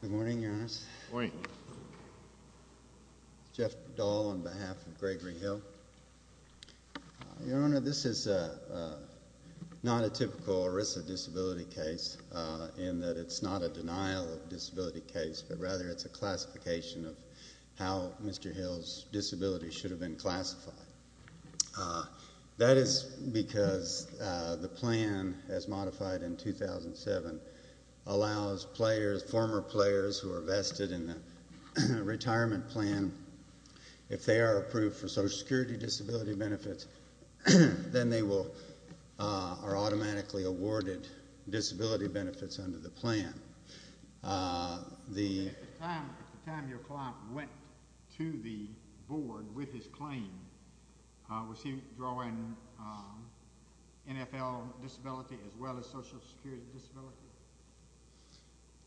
Good morning, Your Honor. Good morning. Jeff Dahl on behalf of Gregory Hill. Your Honor, this is not a typical ERISA disability case, in that it's not a denial of disability case, but rather it's a classification of how Mr. Hill's disability should have been classified. That is because the plan, as modified in 2007, allows players, former players who are vested in the retirement plan, if they are approved for Social Security disability benefits, then they are automatically awarded disability benefits under the plan. At the time your client went to the board with his claim, was he drawing NFL disability as well as Social Security disability?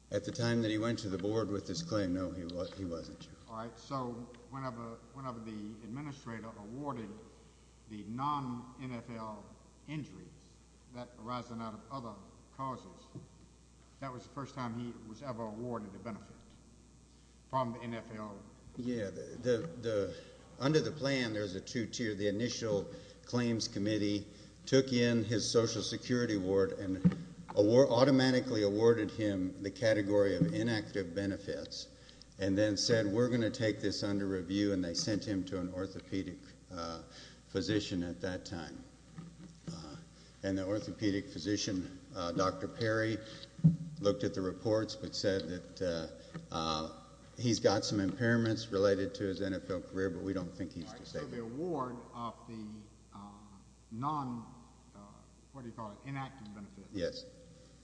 At the time that he went to the board with his claim, no, he wasn't. All right, so whenever the administrator awarded the non-NFL injuries that arise out of other causes, that was the first time he was ever awarded a benefit from the NFL? Yeah. Under the plan, there's a two-tier. The initial claims committee took in his Social Security award and automatically awarded him the category of inactive benefits, and then said, we're going to take this under review, and they sent him to an orthopedic physician at that time. And the orthopedic physician, Dr. Perry, looked at the reports but said that he's got some impairments related to his NFL career, but we don't think he's disabled. So the award of the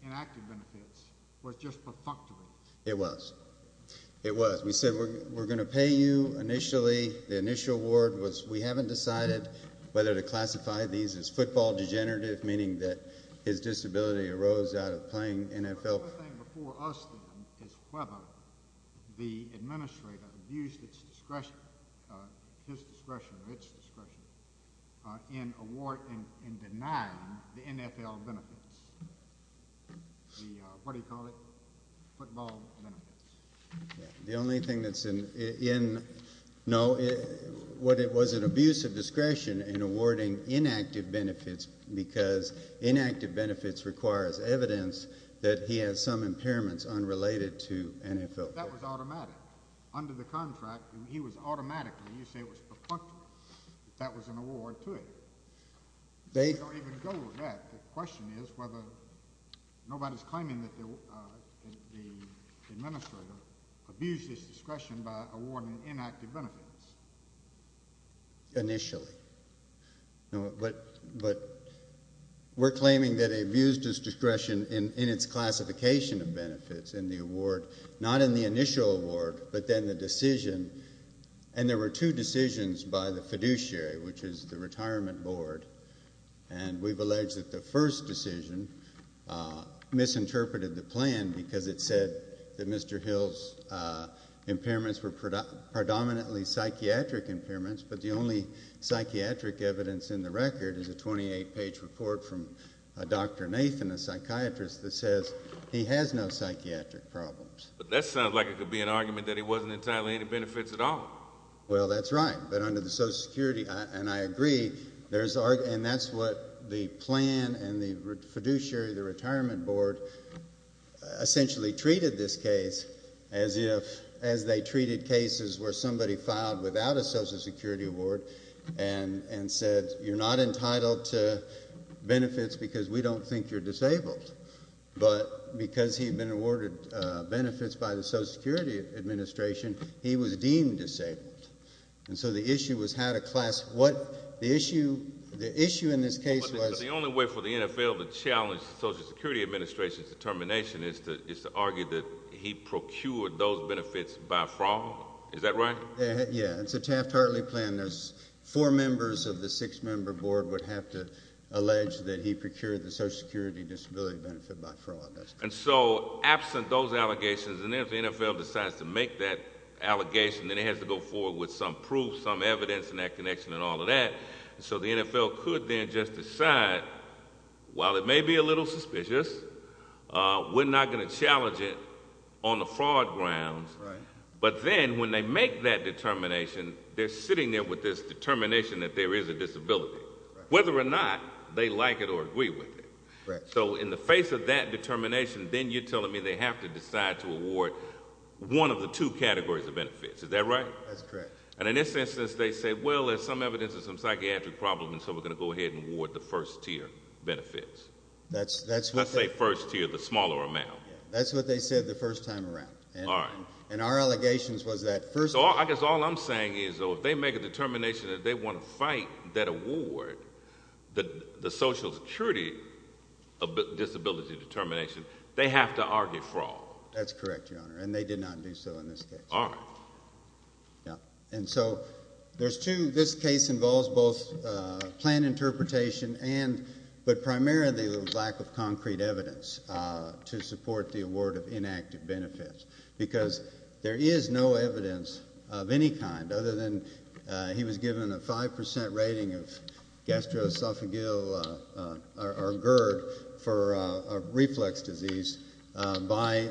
non-inactive benefits was just perfunctory? It was. It was. We said we're going to pay you initially. The initial award was we haven't decided whether to classify these as football degenerative, meaning that his disability arose out of playing NFL. The other thing before us, then, is whether the administrator abused its discretion, his discretion or its discretion, in awarding and denying the NFL benefits, the, what do you call it, football benefits. The only thing that's in, no, what it was an abuse of discretion in awarding inactive benefits because inactive benefits requires evidence that he has some impairments unrelated to NFL. But that was automatic. Under the contract, he was automatically, you say it was perfunctory. That was an award to him. They don't even go with that. The question is whether nobody's claiming that the administrator abused his discretion by awarding inactive benefits. Initially. But we're claiming that he abused his discretion in its classification of benefits in the award, not in the initial award, but then the decision. And there were two decisions by the fiduciary, which is the retirement board, and we've alleged that the first decision misinterpreted the plan because it said that Mr. Hill's impairments were predominantly psychiatric impairments, but the only psychiatric evidence in the record is a 28-page report from Dr. Nathan, a psychiatrist, that says he has no psychiatric problems. But that sounds like it could be an argument that he wasn't entitled to any benefits at all. Well, that's right, but under the Social Security, and I agree, and that's what the plan and the fiduciary, the retirement board, essentially treated this case as if they treated cases where somebody filed without a Social Security award and said you're not entitled to benefits because we don't think you're disabled. But because he'd been awarded benefits by the Social Security administration, he was deemed disabled. And so the issue was how to class what the issue in this case was. But the only way for the NFL to challenge the Social Security administration's determination is to argue that he procured those benefits by fraud. Is that right? Yeah, it's a Taft-Hartley plan. There's four members of the six-member board would have to allege that he procured the Social Security disability benefit by fraud. And so absent those allegations, and then if the NFL decides to make that allegation, then it has to go forward with some proof, some evidence, and that connection and all of that. So the NFL could then just decide, while it may be a little suspicious, we're not going to challenge it on the fraud grounds. But then when they make that determination, they're sitting there with this determination that there is a disability, whether or not they like it or agree with it. So in the face of that determination, then you're telling me they have to decide to award one of the two categories of benefits. Is that right? That's correct. And in this instance, they say, well, there's some evidence of some psychiatric problems, so we're going to go ahead and award the first-tier benefits. Let's say first-tier, the smaller amount. That's what they said the first time around. All right. And our allegations was that first-tier. So I guess all I'm saying is if they make a determination that they want to fight that award, the Social Security disability determination, they have to argue fraud. That's correct, Your Honor. And they did not do so in this case. All right. Yeah. And so there's two. This case involves both planned interpretation, but primarily there was lack of concrete evidence to support the award of inactive benefits because there is no evidence of any kind other than he was given a 5% rating of gastroesophageal or GERD for reflex disease by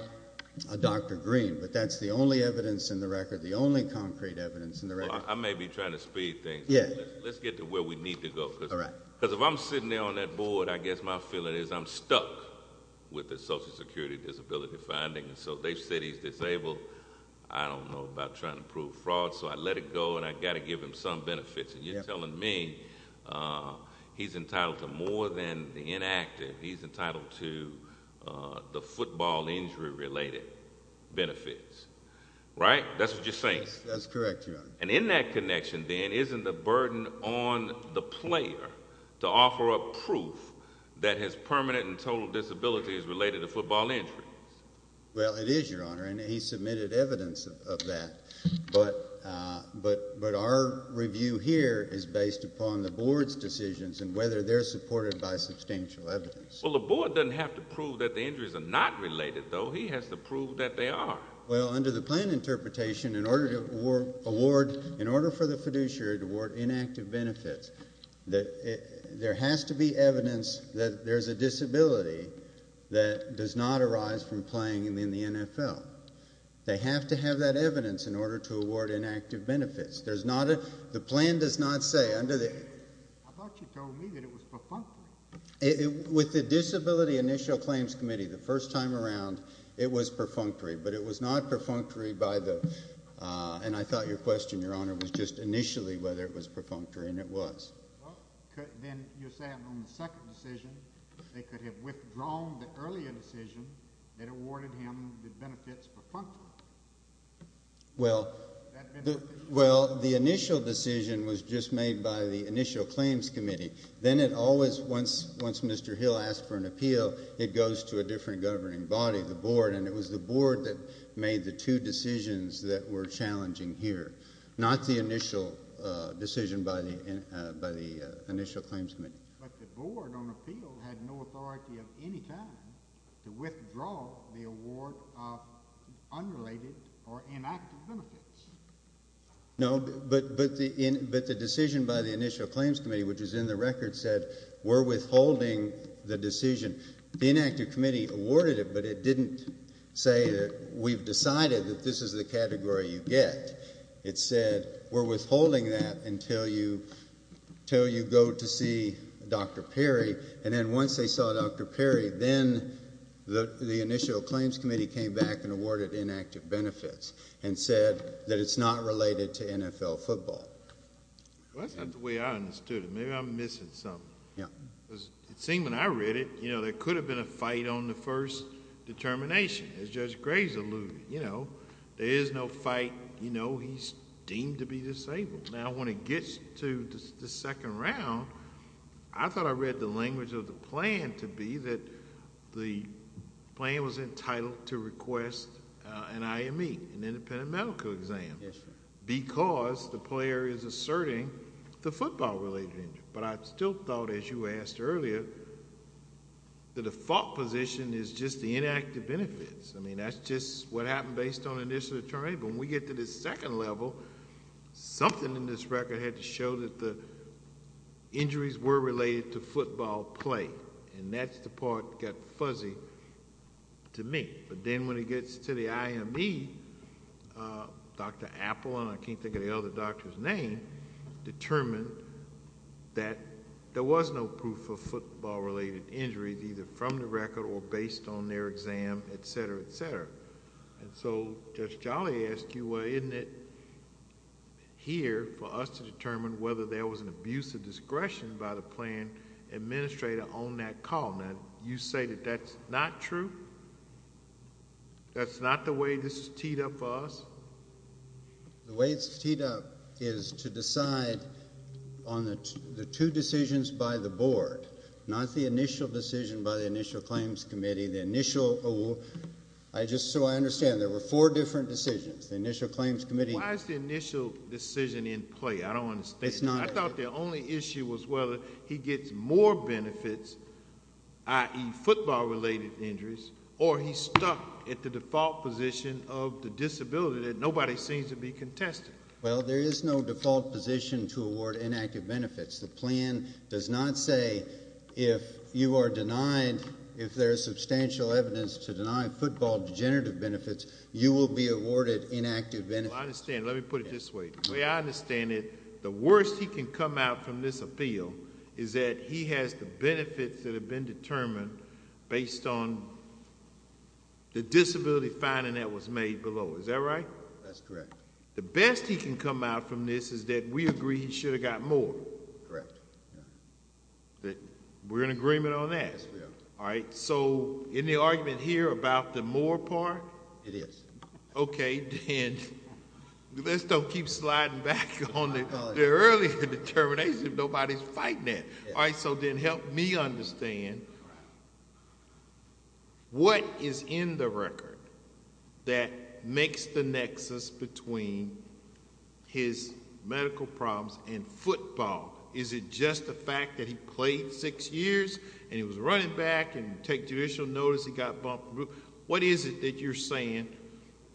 Dr. Green. But that's the only evidence in the record, the only concrete evidence in the record. Well, I may be trying to speed things, but let's get to where we need to go. All right. Because if I'm sitting there on that board, I guess my feeling is I'm stuck with the Social Security disability finding. So they said he's disabled. I don't know about trying to prove fraud, so I let it go, and I've got to give him some benefits. And you're telling me he's entitled to more than the inactive. He's entitled to the football injury-related benefits, right? That's what you're saying? That's correct, Your Honor. And in that connection, then, isn't the burden on the player to offer up proof that his permanent and total disability is related to football injuries? Well, it is, Your Honor, and he submitted evidence of that. But our review here is based upon the board's decisions and whether they're supported by substantial evidence. Well, the board doesn't have to prove that the injuries are not related, though. He has to prove that they are. Well, under the plan interpretation, in order for the fiduciary to award inactive benefits, there has to be evidence that there's a disability that does not arise from playing in the NFL. They have to have that evidence in order to award inactive benefits. The plan does not say under the... I thought you told me that it was perfunctory. With the Disability Initial Claims Committee, the first time around, it was perfunctory. But it was not perfunctory by the... And I thought your question, Your Honor, was just initially whether it was perfunctory, and it was. Well, then you're saying on the second decision, they could have withdrawn the earlier decision that awarded him the benefits perfunctory. Well, the initial decision was just made by the Initial Claims Committee. Then it always, once Mr. Hill asked for an appeal, it goes to a different governing body, the board, and it was the board that made the two decisions that were challenging here, not the initial decision by the Initial Claims Committee. But the board on appeal had no authority of any kind to withdraw the award of unrelated or inactive benefits. No, but the decision by the Initial Claims Committee, which is in the record, said, we're withholding the decision. The inactive committee awarded it, but it didn't say that we've decided that this is the category you get. It said, we're withholding that until you go to see Dr. Perry, and then once they saw Dr. Perry, then the Initial Claims Committee came back and awarded inactive benefits and said that it's not related to NFL football. Well, that's not the way I understood it. Maybe I'm missing something. Yeah. Because it seemed when I read it, you know, there could have been a fight on the first determination, as Judge Graves alluded. You know, there is no fight. You know, he's deemed to be disabled. Now, when it gets to the second round, I thought I read the language of the plan to be that the plan was entitled to request an IME, an independent medical exam, because the player is asserting the football-related injury. But I still thought, as you asked earlier, the default position is just the inactive benefits. I mean, that's just what happened based on initial determination. When we get to the second level, something in this record had to show that the injuries were related to football play, and that's the part that got fuzzy to me. But then when it gets to the IME, Dr. Apple, and I can't think of the other doctor's name, determined that there was no proof of football-related injuries, either from the record or based on their exam, et cetera, et cetera. And so Judge Jolly asked you, well, isn't it here for us to determine whether there was an abuse of discretion by the plan administrator on that call? Now, you say that that's not true? That's not the way this is teed up for us? The way it's teed up is to decide on the two decisions by the board, not the initial decision by the initial claims committee. The initial – just so I understand, there were four different decisions, the initial claims committee. Why is the initial decision in play? I don't understand. It's not. I thought the only issue was whether he gets more benefits, i.e., football-related injuries, or he's stuck at the default position of the disability that nobody seems to be contesting. Well, there is no default position to award inactive benefits. The plan does not say if you are denied, if there is substantial evidence to deny football degenerative benefits, you will be awarded inactive benefits. Well, I understand. Let me put it this way. The way I understand it, the worst he can come out from this appeal is that he has the benefits that have been determined based on the disability finding that was made below. Is that right? That's correct. The best he can come out from this is that we agree he should have got more. Correct. We're in agreement on that? Yes, we are. All right. So in the argument here about the more part? It is. Okay. Then let's not keep sliding back on the earlier determination nobody is fighting at. All right. So then help me understand, what is in the record that makes the nexus between his medical problems and football? Is it just the fact that he played six years and he was running back and take judicial notice he got bumped? What is it that you're saying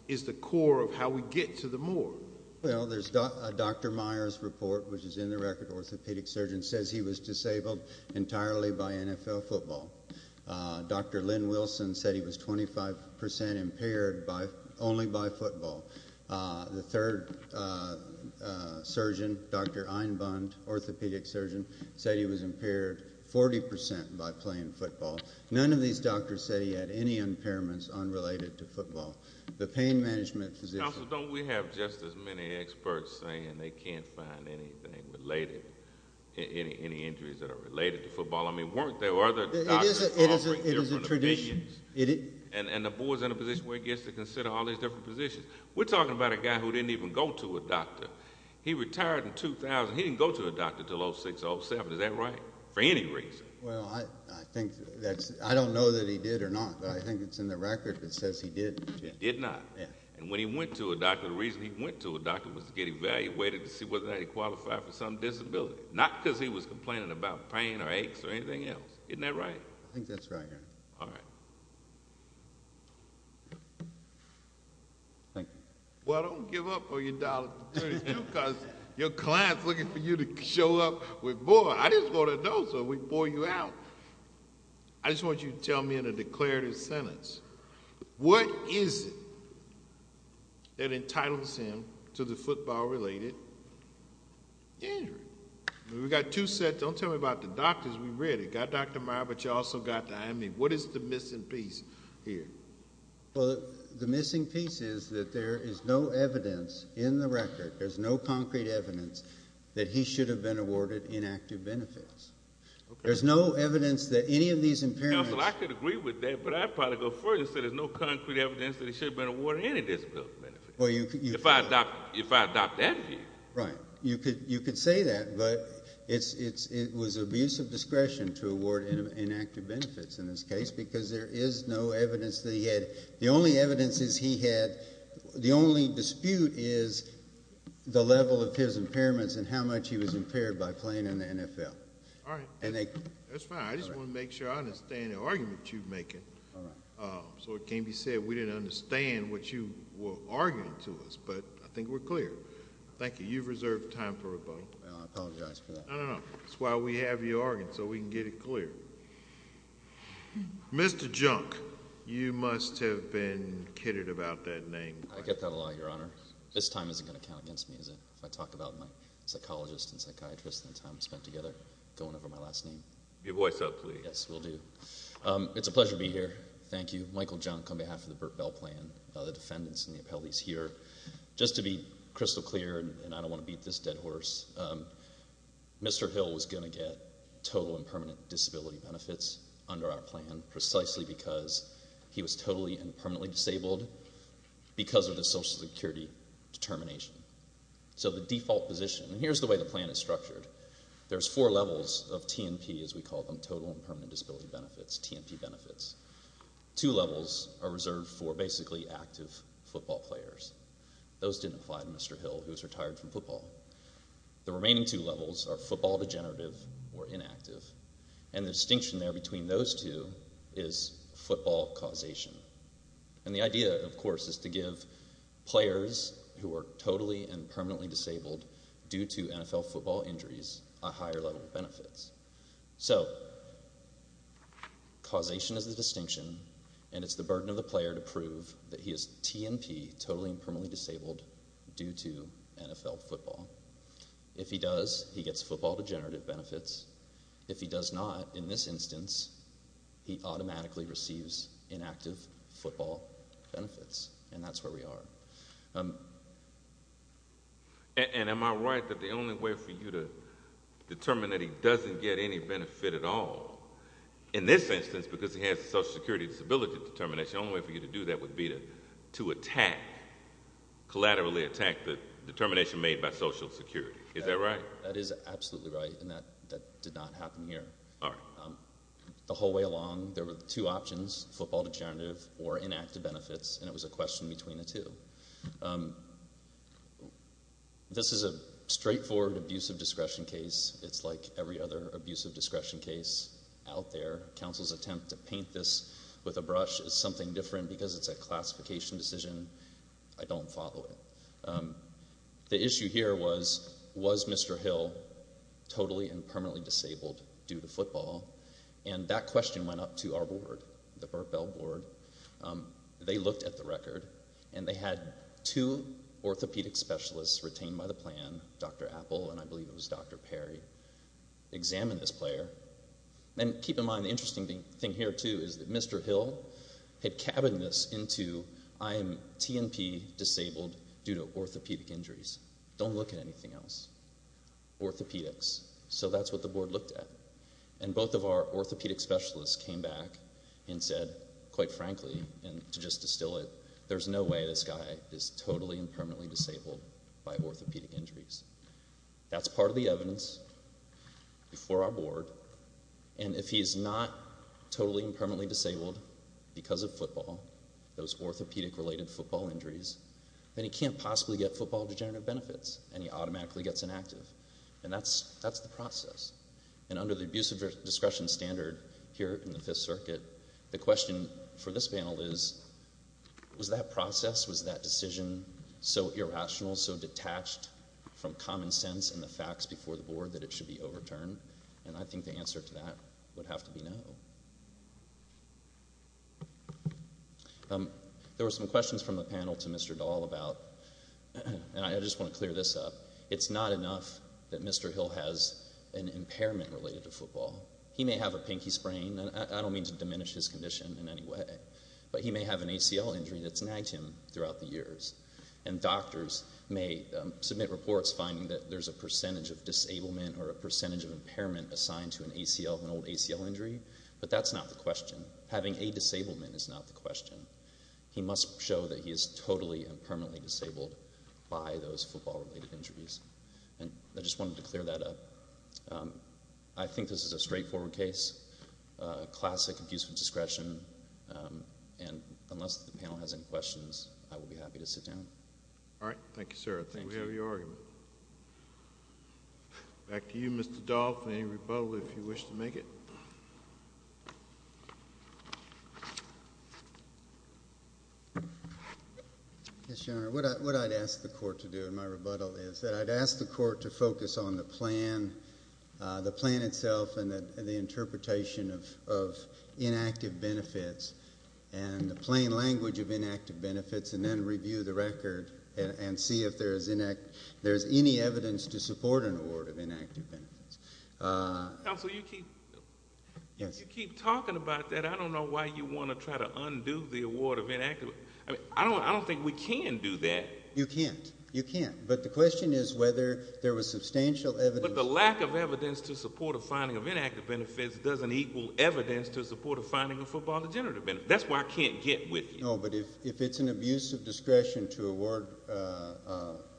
is the core of how we get to the more? Well, there's Dr. Meyer's report, which is in the record. Orthopedic surgeon says he was disabled entirely by NFL football. Dr. Lynn Wilson said he was 25% impaired only by football. The third surgeon, Dr. Einbund, orthopedic surgeon, said he was impaired 40% by playing football. None of these doctors said he had any impairments unrelated to football. The pain management physician. Counsel, don't we have just as many experts saying they can't find anything related, any injuries that are related to football? I mean, weren't there other doctors offering different opinions? It is a tradition. And the board's in a position where it gets to consider all these different positions. We're talking about a guy who didn't even go to a doctor. He retired in 2000. He didn't go to a doctor until 06, 07. Is that right, for any reason? Well, I don't know that he did or not, but I think it's in the record that says he did. He did not? Yeah. And when he went to a doctor, the reason he went to a doctor was to get evaluated to see whether or not he qualified for some disability. Not because he was complaining about pain or aches or anything else. Isn't that right? I think that's right, Your Honor. All right. Thank you. Well, don't give up on your dollars because your client's looking for you to show up with more. I just want to know so we can bore you out. I just want you to tell me in a declarative sentence, what is it that entitles him to the football-related injury? We've got two sets. Don't tell me about the doctors. We've read it. You've got Dr. Meyer, but you've also got the IME. What is the missing piece here? Well, the missing piece is that there is no evidence in the record, there's no concrete evidence, that he should have been awarded inactive benefits. There's no evidence that any of these impairments. Counsel, I could agree with that, but I'd probably go further and say there's no concrete evidence that he should have been awarded any disability benefits. If I adopt that view. Right. You could say that, but it was abuse of discretion to award inactive benefits in this case because there is no evidence that he had. The only evidence is he had, the only dispute is the level of his impairments and how much he was impaired by playing in the NFL. All right. That's fine. I just want to make sure I understand the argument you're making. All right. So it can be said we didn't understand what you were arguing to us, but I think we're clear. Thank you. You've reserved time for rebuttal. I apologize for that. No, no, no. That's why we have you arguing, so we can get it clear. Mr. Junk, you must have been kidded about that name. I get that a lot, Your Honor. This time isn't going to count against me, is it, if I talk about my psychologist and psychiatrist and the time we spent together going over my last name? Your voice up, please. Yes, will do. It's a pleasure to be here. Thank you. Michael Junk, on behalf of the Burt Bell Plan, the defendants, and the appellees here. Just to be crystal clear, and I don't want to beat this dead horse, Mr. Hill was going to get total and permanent disability benefits under our plan, precisely because he was totally and permanently disabled because of the Social Security determination. So the default position, and here's the way the plan is structured. There's four levels of T&P, as we call them, total and permanent disability benefits, T&P benefits. Two levels are reserved for basically active football players. Those didn't apply to Mr. Hill, who's retired from football. The remaining two levels are football degenerative or inactive, and the distinction there between those two is football causation. And the idea, of course, is to give players who are totally and permanently disabled due to NFL football injuries a higher level of benefits. So causation is the distinction, and it's the burden of the player to prove that he is T&P, totally and permanently disabled, due to NFL football. If he does, he gets football degenerative benefits. If he does not, in this instance, he automatically receives inactive football benefits, and that's where we are. And am I right that the only way for you to determine that he doesn't get any benefit at all, in this instance, because he has a Social Security disability determination, the only way for you to do that would be to attack, collaterally attack the determination made by Social Security. Is that right? That is absolutely right, and that did not happen here. All right. The whole way along, there were two options, football degenerative or inactive benefits, and it was a question between the two. This is a straightforward abusive discretion case. It's like every other abusive discretion case out there. Counsel's attempt to paint this with a brush is something different because it's a classification decision. I don't follow it. The issue here was, was Mr. Hill totally and permanently disabled due to football, and that question went up to our board, the Bell Board. They looked at the record, and they had two orthopedic specialists retained by the plan, Dr. Apple, and I believe it was Dr. Perry, examine this player. And keep in mind, the interesting thing here, too, is that Mr. Hill had cabined this into, I am TNP disabled due to orthopedic injuries. Don't look at anything else. Orthopedics. So that's what the board looked at, and both of our orthopedic specialists came back and said, quite frankly, and to just distill it, there's no way this guy is totally and permanently disabled by orthopedic injuries. That's part of the evidence before our board. And if he's not totally and permanently disabled because of football, those orthopedic-related football injuries, then he can't possibly get football degenerative benefits, and he automatically gets inactive. And that's the process. And under the abusive discretion standard here in the Fifth Circuit, the question for this panel is, was that process, was that decision so irrational, so detached from common sense and the facts before the board that it should be overturned? And I think the answer to that would have to be no. There were some questions from the panel to Mr. Dahl about, and I just want to clear this up, it's not enough that Mr. Hill has an impairment related to football. He may have a pinky sprain, and I don't mean to diminish his condition in any way, but he may have an ACL injury that's nagged him throughout the years. And doctors may submit reports finding that there's a percentage of disablement or a percentage of impairment assigned to an old ACL injury, but that's not the question. Having a disablement is not the question. He must show that he is totally and permanently disabled by those football-related injuries. And I just wanted to clear that up. I think this is a straightforward case, classic abuse of discretion, and unless the panel has any questions, I will be happy to sit down. All right. Thank you, sir. I think we have your argument. Back to you, Mr. Dahl, for any rebuttal if you wish to make it. Yes, Your Honor. What I'd ask the Court to do in my rebuttal is that I'd ask the Court to focus on the plan, the plan itself, and the interpretation of inactive benefits and the plain language of inactive benefits and then review the record and see if there's any evidence to support an award of inactive benefits. Counsel, you keep talking about that. I don't know why you want to try to undo the award of inactive benefits. I don't think we can do that. You can't. You can't. But the question is whether there was substantial evidence. But the lack of evidence to support a finding of inactive benefits doesn't equal evidence to support a finding of football degenerative benefits. That's why I can't get with you. No, but if it's an abuse of discretion to award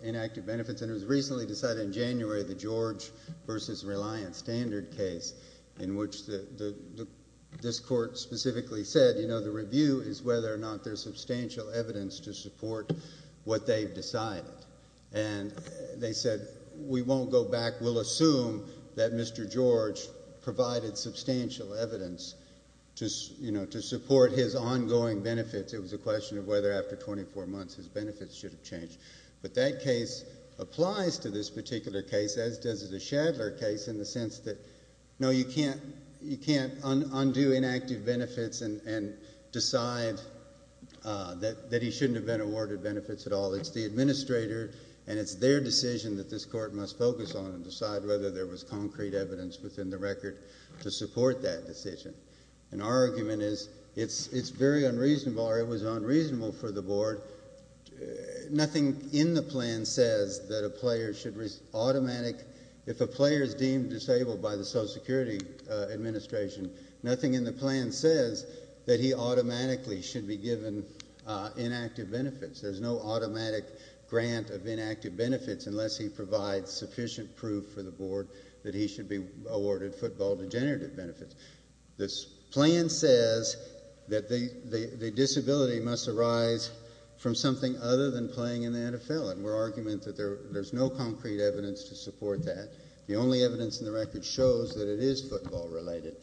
inactive benefits, and it was recently decided in January, the George v. Reliant Standard case, in which this Court specifically said, you know, the review is whether or not there's substantial evidence to support what they've decided. And they said, we won't go back. We'll assume that Mr. George provided substantial evidence to support his ongoing benefits. It was a question of whether after 24 months his benefits should have changed. But that case applies to this particular case, as does the Shadler case, in the sense that, no, you can't undo inactive benefits and decide that he shouldn't have been awarded benefits at all. It's the administrator, and it's their decision that this Court must focus on and decide whether there was concrete evidence within the record to support that decision. And our argument is it's very unreasonable, or it was unreasonable for the Board. Nothing in the plan says that a player should automatically if a player is deemed disabled by the Social Security Administration, nothing in the plan says that he automatically should be given inactive benefits. There's no automatic grant of inactive benefits unless he provides sufficient proof for the Board that he should be awarded football degenerative benefits. This plan says that the disability must arise from something other than playing in the NFL, and we're arguing that there's no concrete evidence to support that. The only evidence in the record shows that it is football-related.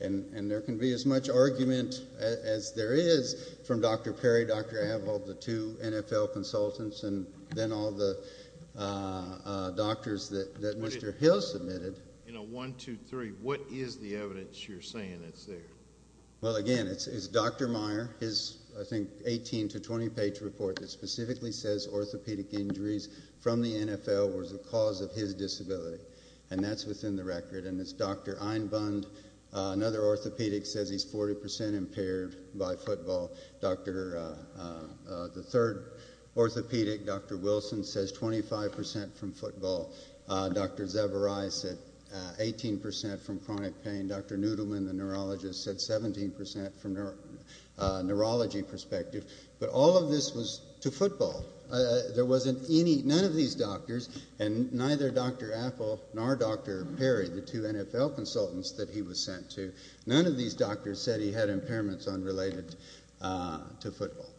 And there can be as much argument as there is from Dr. Perry, Dr. Havehold, the two NFL consultants, and then all the doctors that Mr. Hill submitted. In a 1-2-3, what is the evidence you're saying that's there? Well, again, it's Dr. Meyer. His, I think, 18- to 20-page report that specifically says orthopedic injuries from the NFL was the cause of his disability, and that's within the record. And it's Dr. Einbund. Another orthopedic says he's 40% impaired by football. The third orthopedic, Dr. Wilson, says 25% from football. Dr. Zevaray said 18% from chronic pain. Dr. Nudelman, the neurologist, said 17% from a neurology perspective. But all of this was to football. There wasn't any, none of these doctors, and neither Dr. Apple nor Dr. Perry, the two NFL consultants that he was sent to, none of these doctors said he had impairments unrelated to football.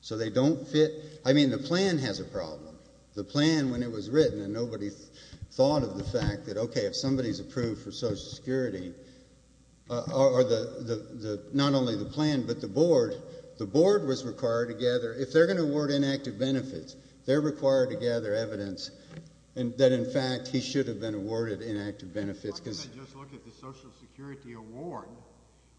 So they don't fit. I mean, the plan has a problem. The plan, when it was written, and nobody thought of the fact that, okay, if somebody's approved for Social Security, not only the plan but the board, the board was required to gather, if they're going to award inactive benefits, they're required to gather evidence that, in fact, he should have been awarded inactive benefits. Why didn't they just look at the Social Security award,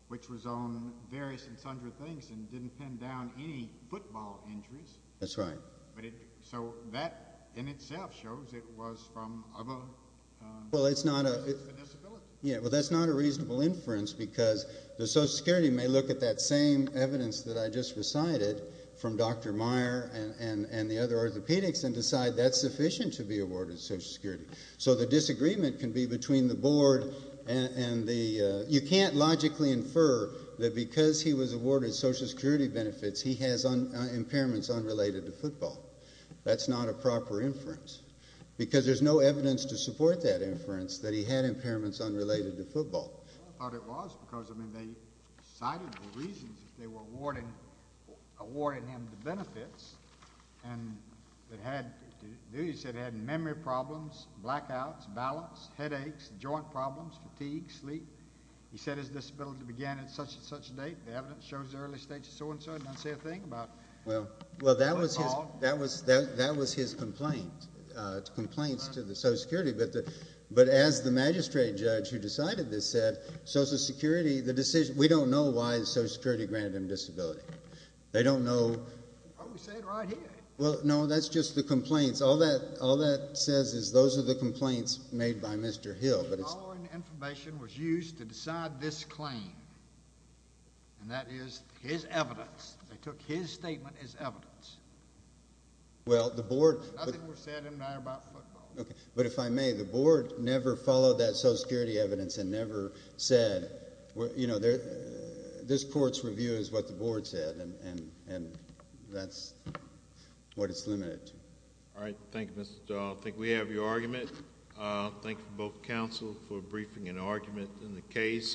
which was on various and sundry things and didn't pin down any football injuries? That's right. So that in itself shows it was from other disabilities. Well, that's not a reasonable inference because the Social Security may look at that same evidence that I just recited from Dr. Meyer and the other orthopedics and decide that's sufficient to be awarded Social Security. So the disagreement can be between the board and the, you can't logically infer that because he was awarded Social Security benefits, he has impairments unrelated to football. That's not a proper inference because there's no evidence to support that inference that he had impairments unrelated to football. I thought it was because, I mean, they cited the reasons that they were awarding him the benefits and it had, they said it had memory problems, blackouts, balance, headaches, joint problems, fatigue, sleep. He said his disability began at such and such a date. The evidence shows the early stages of so and so. It doesn't say a thing about football. Well, that was his complaint, complaints to the Social Security, but as the magistrate judge who decided this said, Social Security, the decision, we don't know why the Social Security granted him disability. They don't know. Oh, we say it right here. Well, no, that's just the complaints. All that says is those are the complaints made by Mr. Hill. The following information was used to decide this claim, and that is his evidence. They took his statement as evidence. Well, the board... Nothing was said in there about football. Okay, but if I may, the board never followed that Social Security evidence and never said, you know, this court's review is what the board said and that's what it's limited to. All right, thank you, Mr. Dahl. I think we have your argument. Thank you both, counsel, for briefing and argument in the case.